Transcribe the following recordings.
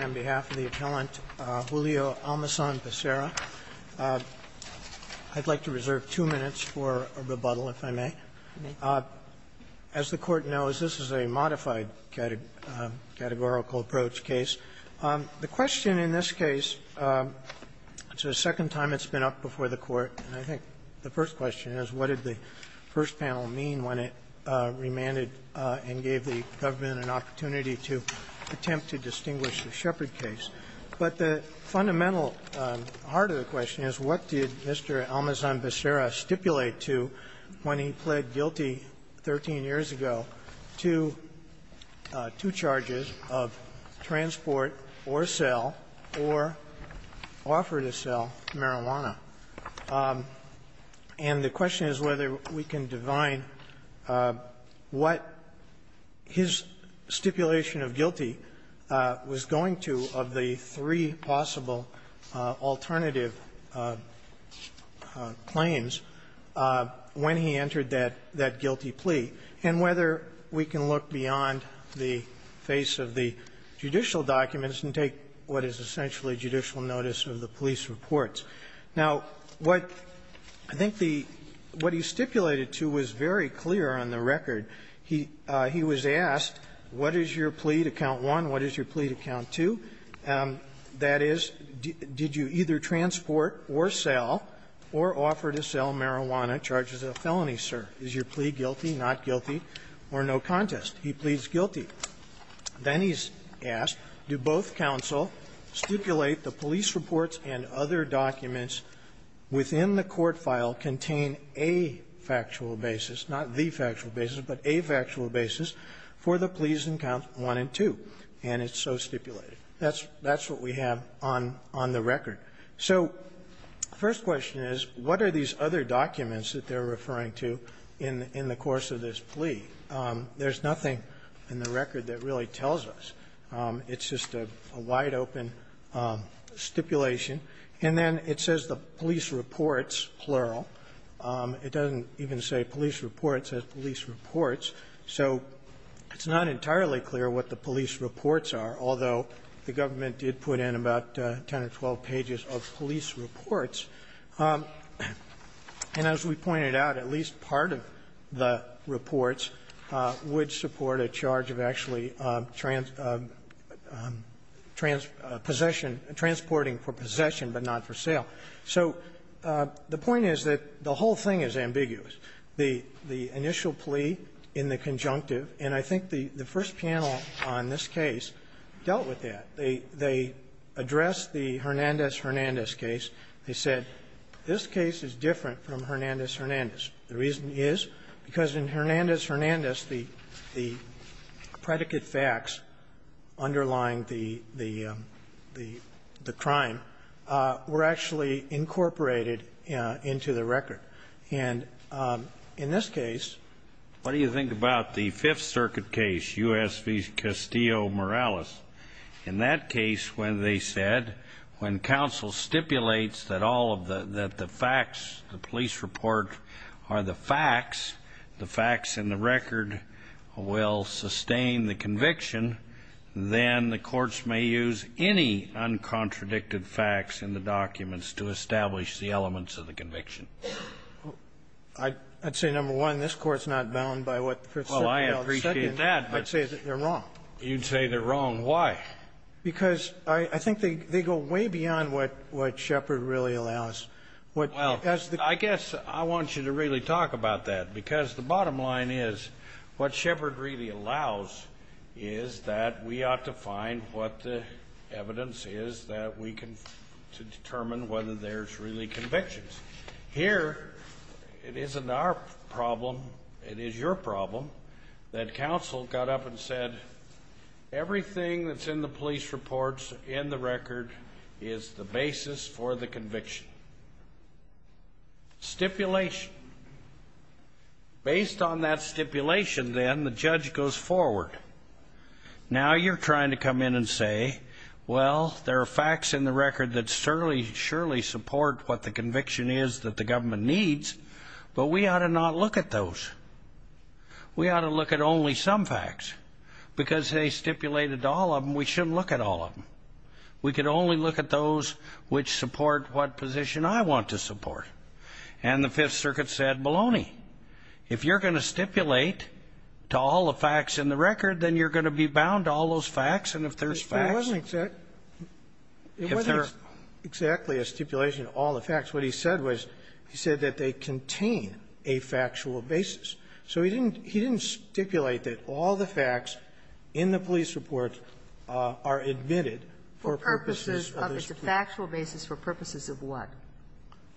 on behalf of the appellant, Julio Almazan-Becerra. I'd like to reserve two minutes for a rebuttal, if I may. As the Court knows, this is a modified categorical approach case. The question in this case, it's the second time it's been up before the Court, and I think the first question is, what did the first panel mean when it remanded and gave the government an opportunity to attempt to distinguish the Shepard case? But the fundamental heart of the question is, what did Mr. Almazan-Becerra stipulate to when he pled guilty 13 years ago to two charges of transport or sale or offer to sell marijuana? And the question is whether we can divine what his stipulation of guilty was going to of the three possible alternative claims when he entered that guilty plea, and whether we can look beyond the face of the judicial documents and take what is essentially judicial notice of the police reports. Now, what I think the what he stipulated to was very clear on the record. He was asked, what is your plea to count one, what is your plea to count two? That is, did you either transport or sell or offer to sell marijuana charges of felony, sir? Is your plea guilty, not guilty, or no contest? He pleads guilty. Then he's asked, do both counsel stipulate the police reports and other documents within the court file contain a factual basis, not the factual basis, but a factual basis for the pleas in count one and two? And it's so stipulated. That's what we have on the record. So first question is, what are these other documents that they're us? It's just a wide-open stipulation. And then it says the police reports, plural. It doesn't even say police reports. It says police reports. So it's not entirely clear what the police reports are, although the government did put in about 10 or 12 pages of police reports. And as we pointed out, at least part of the reports would support a charge of actually trans of possession transporting for possession, but not for sale. So the point is that the whole thing is ambiguous. The initial plea in the conjunctive, and I think the first panel on this case dealt with that. They addressed the Hernandez-Hernandez case. They said this case is different from Hernandez-Hernandez. The reason is because in Hernandez-Hernandez, the predicate facts underlying the crime were actually incorporated into the record. And in this case, what do you think about the Fifth Circuit case, U.S. v. Castillo-Morales? In that case, when they said, when counsel stipulates that all of the the facts, the police report are the facts, the facts in the record will sustain the conviction, then the courts may use any uncontradicted facts in the documents to establish the elements of the conviction. I'd say, number one, this Court's not bound by what the Fifth Circuit held. Well, I appreciate that, but you'd say they're wrong. Why? Because I think they go way beyond what Shepard really allows. Well, I guess I want you to really talk about that, because the bottom line is, what Shepard really allows is that we ought to find what the evidence is that we can determine whether there's really convictions. Here, it isn't our problem. It is your problem that counsel got up and said, everything that's in the police reports in the record is the basis for the conviction. Stipulation. Based on that stipulation, then, the judge goes forward. Now, you're trying to come in and say, well, there are facts in the record that surely support what the conviction is that the government needs, but we ought to not look at those. We ought to look at only some facts. Because they stipulated to all of them, we shouldn't look at all of them. We could only look at those which support what position I want to support. And the Fifth Circuit said, baloney. If you're going to stipulate to all the facts in the record, then you're going to be bound to all those facts, and if there's facts you're bound to all the facts. It wasn't exactly a stipulation to all the facts. What he said was, he said that they contain a factual basis. So he didn't stipulate that all the facts in the police report are admitted for purposes of this plea. It's a factual basis for purposes of what?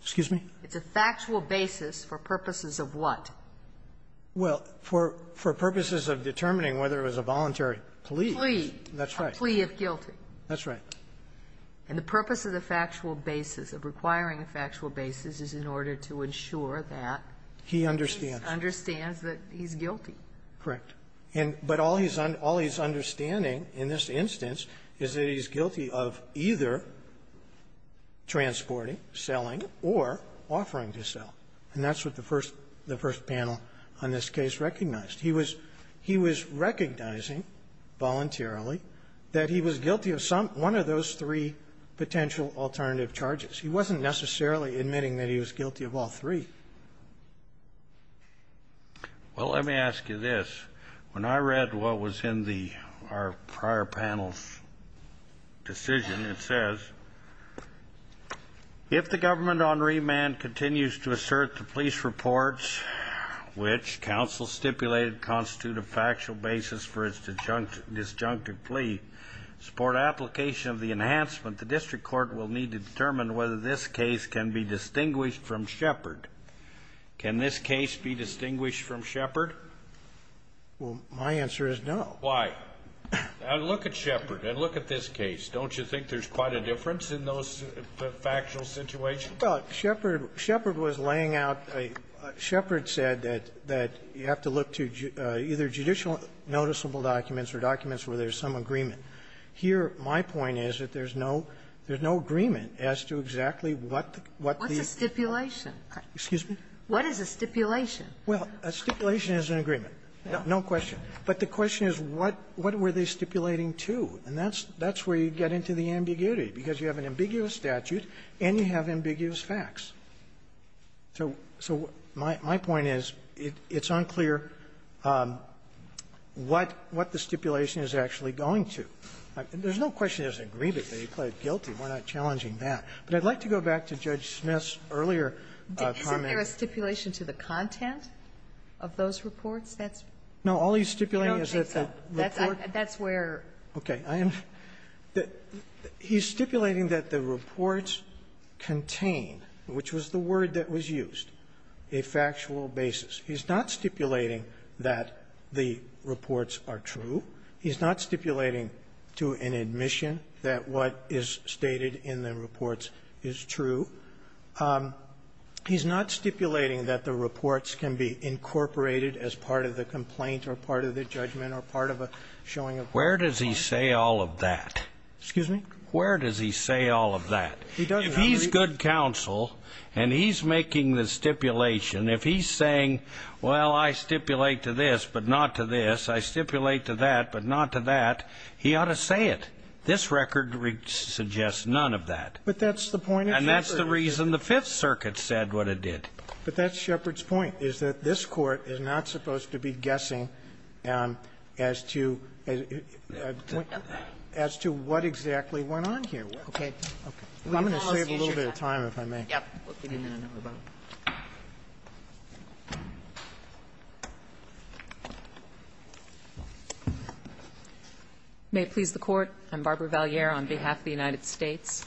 Excuse me? It's a factual basis for purposes of what? Well, for purposes of determining whether it was a voluntary plea. Plea. That's right. A plea of guilty. That's right. And the purpose of the factual basis, of requiring a factual basis, is in order to ensure that he understands that he's guilty. Correct. And but all he's understanding in this instance is that he's guilty of either transporting, selling, or offering to sell. And that's what the first panel on this case recognized. He was he was recognizing voluntarily that he was guilty of some one of those three potential alternative charges. He wasn't necessarily admitting that he was guilty of all three. Well, let me ask you this. When I read what was in the our prior panel's decision, it says, if the government on remand continues to assert the police reports, which counsel stipulated constitute a factual basis for its disjunctive plea, support application of the enhancement, the district court will need to determine whether this case can be distinguished from Shepard. Can this case be distinguished from Shepard? Well, my answer is no. Why? Now, look at Shepard, and look at this case. Don't you think there's quite a difference in those factual situations? Well, Shepard was laying out a Shepard said that you have to look to either judicial noticeable documents or documents where there's some agreement. Here, my point is that there's no there's no agreement as to exactly what the what the What's a stipulation? Excuse me? What is a stipulation? Well, a stipulation is an agreement. No question. But the question is what what were they stipulating to? And that's that's where you get into the ambiguity, because you have an ambiguous statute and you have ambiguous facts. So so my my point is it's unclear what what the stipulation is actually going to. There's no question there's an agreement. They plead guilty. We're not challenging that. But I'd like to go back to Judge Smith's earlier comment. Isn't there a stipulation to the content of those reports that's? No. All he's stipulating is that the report. That's where. Okay. I am that he's stipulating that the reports contain, which was the word that was used, a factual basis. He's not stipulating that the reports are true. He's not stipulating to an admission that what is stated in the reports is true. He's not stipulating that the reports can be incorporated as part of the complaint or part of the judgment or part of a showing of. Where does he say all of that? Excuse me? Where does he say all of that? He doesn't. If he's good counsel and he's making the stipulation, if he's saying, well, I stipulate to this, but not to this, I stipulate to that, but not to that, he ought to say it. This record suggests none of that. But that's the point of Shepard. And that's the reason the Fifth Circuit said what it did. But that's Shepard's point, is that this Court is not supposed to be guessing as to what exactly went on here. Okay. I'm going to save a little bit of time, if I may. May it please the Court. I'm Barbara Valliere on behalf of the United States.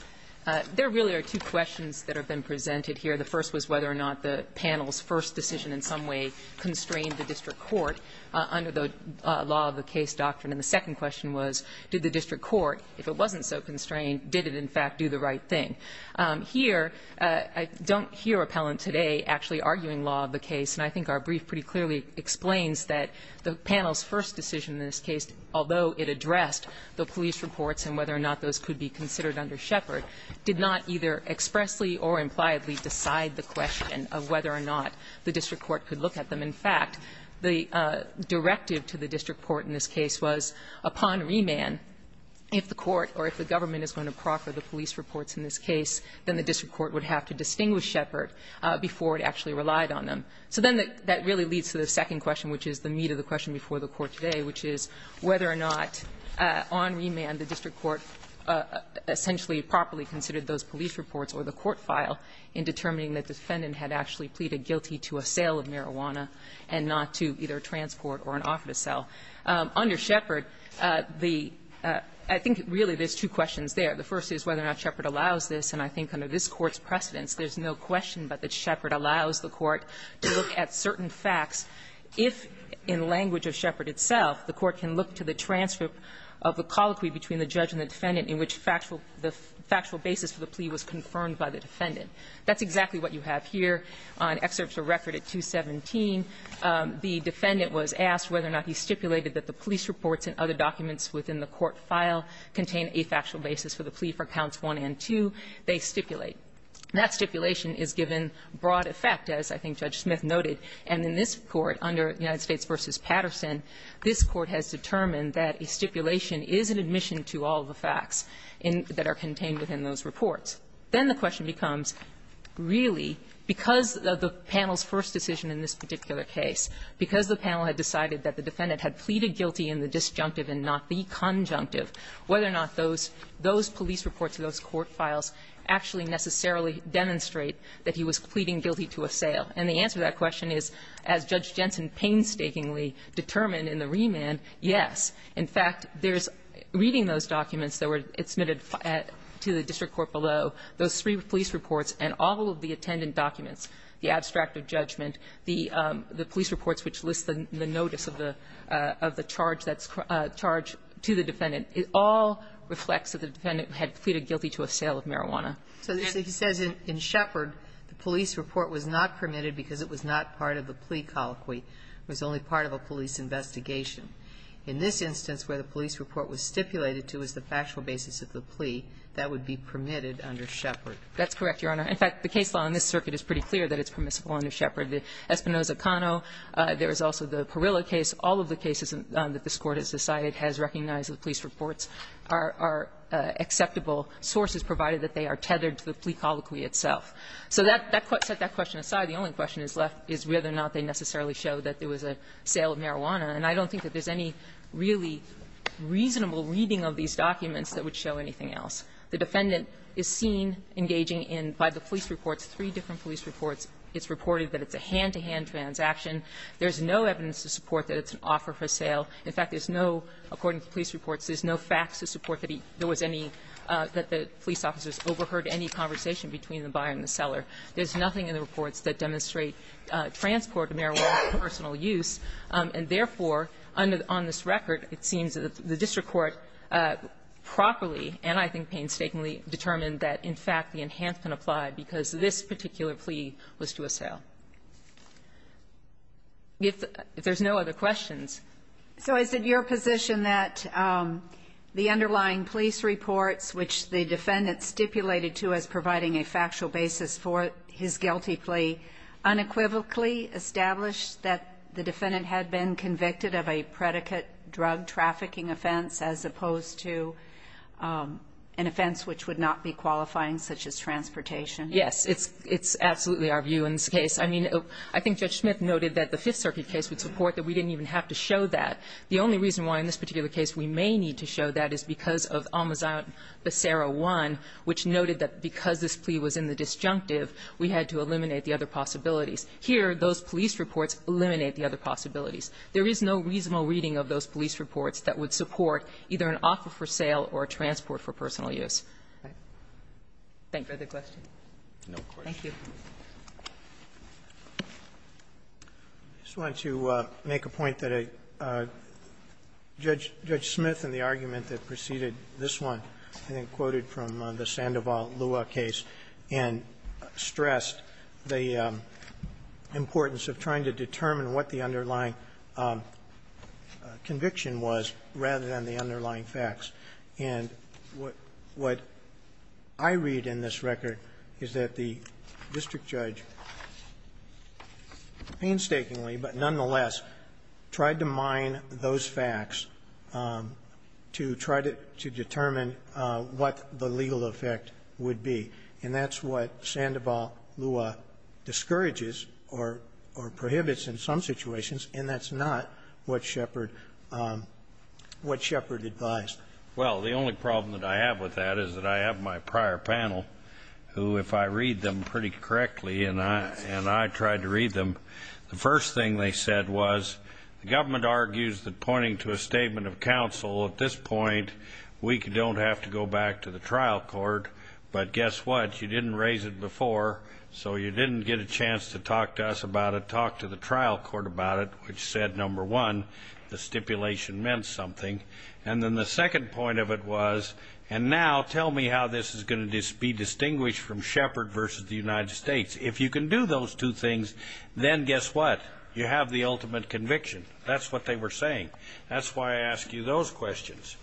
There really are two questions that have been presented here. The first was whether or not the panel's first decision in some way constrained the district court. Under the law of the case doctrine. And the second question was, did the district court, if it wasn't so constrained, did it in fact do the right thing? Here, I don't hear appellant today actually arguing law of the case. And I think our brief pretty clearly explains that the panel's first decision in this case, although it addressed the police reports and whether or not those could be considered under Shepard, did not either expressly or impliedly decide the question of whether or not the district court could look at them. In fact, the directive to the district court in this case was, upon remand, if the court or if the government is going to proffer the police reports in this case, then the district court would have to distinguish Shepard before it actually relied on them. So then that really leads to the second question, which is the meat of the question before the Court today, which is whether or not on remand the district court essentially properly considered those police reports or the court file in determining that the defendant had actually pleaded guilty to a sale of marijuana and not to either transport or an offer to sell. Under Shepard, the – I think really there's two questions there. The first is whether or not Shepard allows this. And I think under this Court's precedence, there's no question but that Shepard allows the Court to look at certain facts if, in language of Shepard itself, the Court can look to the transcript of the colloquy between the judge and the defendant in which factual – the factual basis for the plea was confirmed by the defendant. That's exactly what you have here on excerpts of record at 217. The defendant was asked whether or not he stipulated that the police reports and other documents within the court file contain a factual basis for the plea for counts 1 and 2. They stipulate. That stipulation is given broad effect, as I think Judge Smith noted. And in this Court, under United States v. Patterson, this Court has determined that a stipulation is an admission to all of the facts in – that are contained within those reports. Then the question becomes, really, because of the panel's first decision in this particular case, because the panel had decided that the defendant had pleaded guilty in the disjunctive and not the conjunctive, whether or not those – those police reports or those court files actually necessarily demonstrate that he was pleading guilty to assail. And the answer to that question is, as Judge Jensen painstakingly determined in the remand, yes. In fact, there's – reading those documents that were – it's submitted to the district court below, those three police reports and all of the attendant documents, the abstract of judgment, the police reports which list the notice of the charge that's charged to the defendant, it all reflects that the defendant had pleaded guilty to assail of marijuana. So he says in Shepard, the police report was not permitted because it was not part of the plea colloquy. It was only part of a police investigation. In this instance, where the police report was stipulated to as the factual basis of the plea, that would be permitted under Shepard. That's correct, Your Honor. In fact, the case law in this circuit is pretty clear that it's permissible under Shepard. The Espinoza-Cano, there is also the Parilla case. All of the cases that this Court has decided has recognized that the police reports are acceptable sources, provided that they are tethered to the plea colloquy itself. So that – that set that question aside. The only question is left is whether or not they necessarily show that there was a sale of marijuana. And I don't think that there's any really reasonable reading of these documents that would show anything else. The defendant is seen engaging in, by the police reports, three different police reports. It's reported that it's a hand-to-hand transaction. There's no evidence to support that it's an offer for sale. In fact, there's no – according to police reports, there's no facts to support that he – there was any – that the police officers overheard any conversation between the buyer and the seller. There's nothing in the reports that demonstrate transport of marijuana for personal use. And therefore, under – on this record, it seems that the district court properly and, I think, painstakingly determined that, in fact, the enhancement applied because this particular plea was to a sale. If there's no other questions. So is it your position that the underlying police reports, which the defendant stipulated to as providing a factual basis for his guilty plea, unequivocally established that the defendant had been convicted of a predicate drug trafficking offense as opposed to an offense which would not be qualifying such as transportation? Yes. It's – it's absolutely our view in this case. I mean, I think Judge Smith noted that the Fifth Circuit case would support that we didn't even have to show that. The only reason why in this particular case we may need to show that is because of Almazan Becerra 1, which noted that because this plea was in the disjunctive, we had to eliminate the other possibilities. Here, those police reports eliminate the other possibilities. There is no reasonable reading of those police reports that would support either an offer for sale or a transport for personal use. Thank you. No further questions. Thank you. Roberts. I just wanted to make a point that a Judge – Judge Smith in the argument that preceded this one, I think quoted from the Sandoval-Lua case, and stressed the importance of trying to determine what the underlying conviction was rather than the underlying facts. And what – what I read in this record is that the district judge painstakingly but nonetheless tried to mine those facts to try to – to determine what the legal effect would be. And that's what Sandoval-Lua discourages or – or prohibits in some situations, and that's not what Shepard – what Shepard advised. Well, the only problem that I have with that is that I have my prior panel, who, if I read them pretty correctly, and I – and I tried to read them, the first thing they said was, the government argues that pointing to a statement of counsel, at this point, we don't have to go back to the trial court. But guess what? You didn't raise it before, so you didn't get a chance to talk to us about it. Talk to the trial court about it, which said, number one, the stipulation meant something. And then the second point of it was, and now tell me how this is going to be distinguished from Shepard versus the United States. If you can do those two things, then guess what? You have the ultimate conviction. That's what they were saying. That's why I ask you those questions.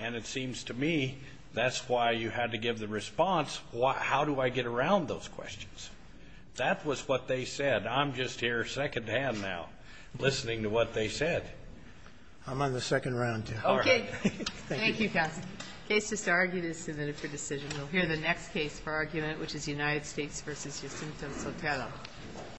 And it seems to me, that's why you had to give the response, how do I get around those questions? That was what they said. I'm just here secondhand now, listening to what they said. I'm on the second round, too. Okay. Thank you, counsel. Case disargued is submitted for decision. We'll hear the next case for argument, which is United States versus Jacinto Sotelo.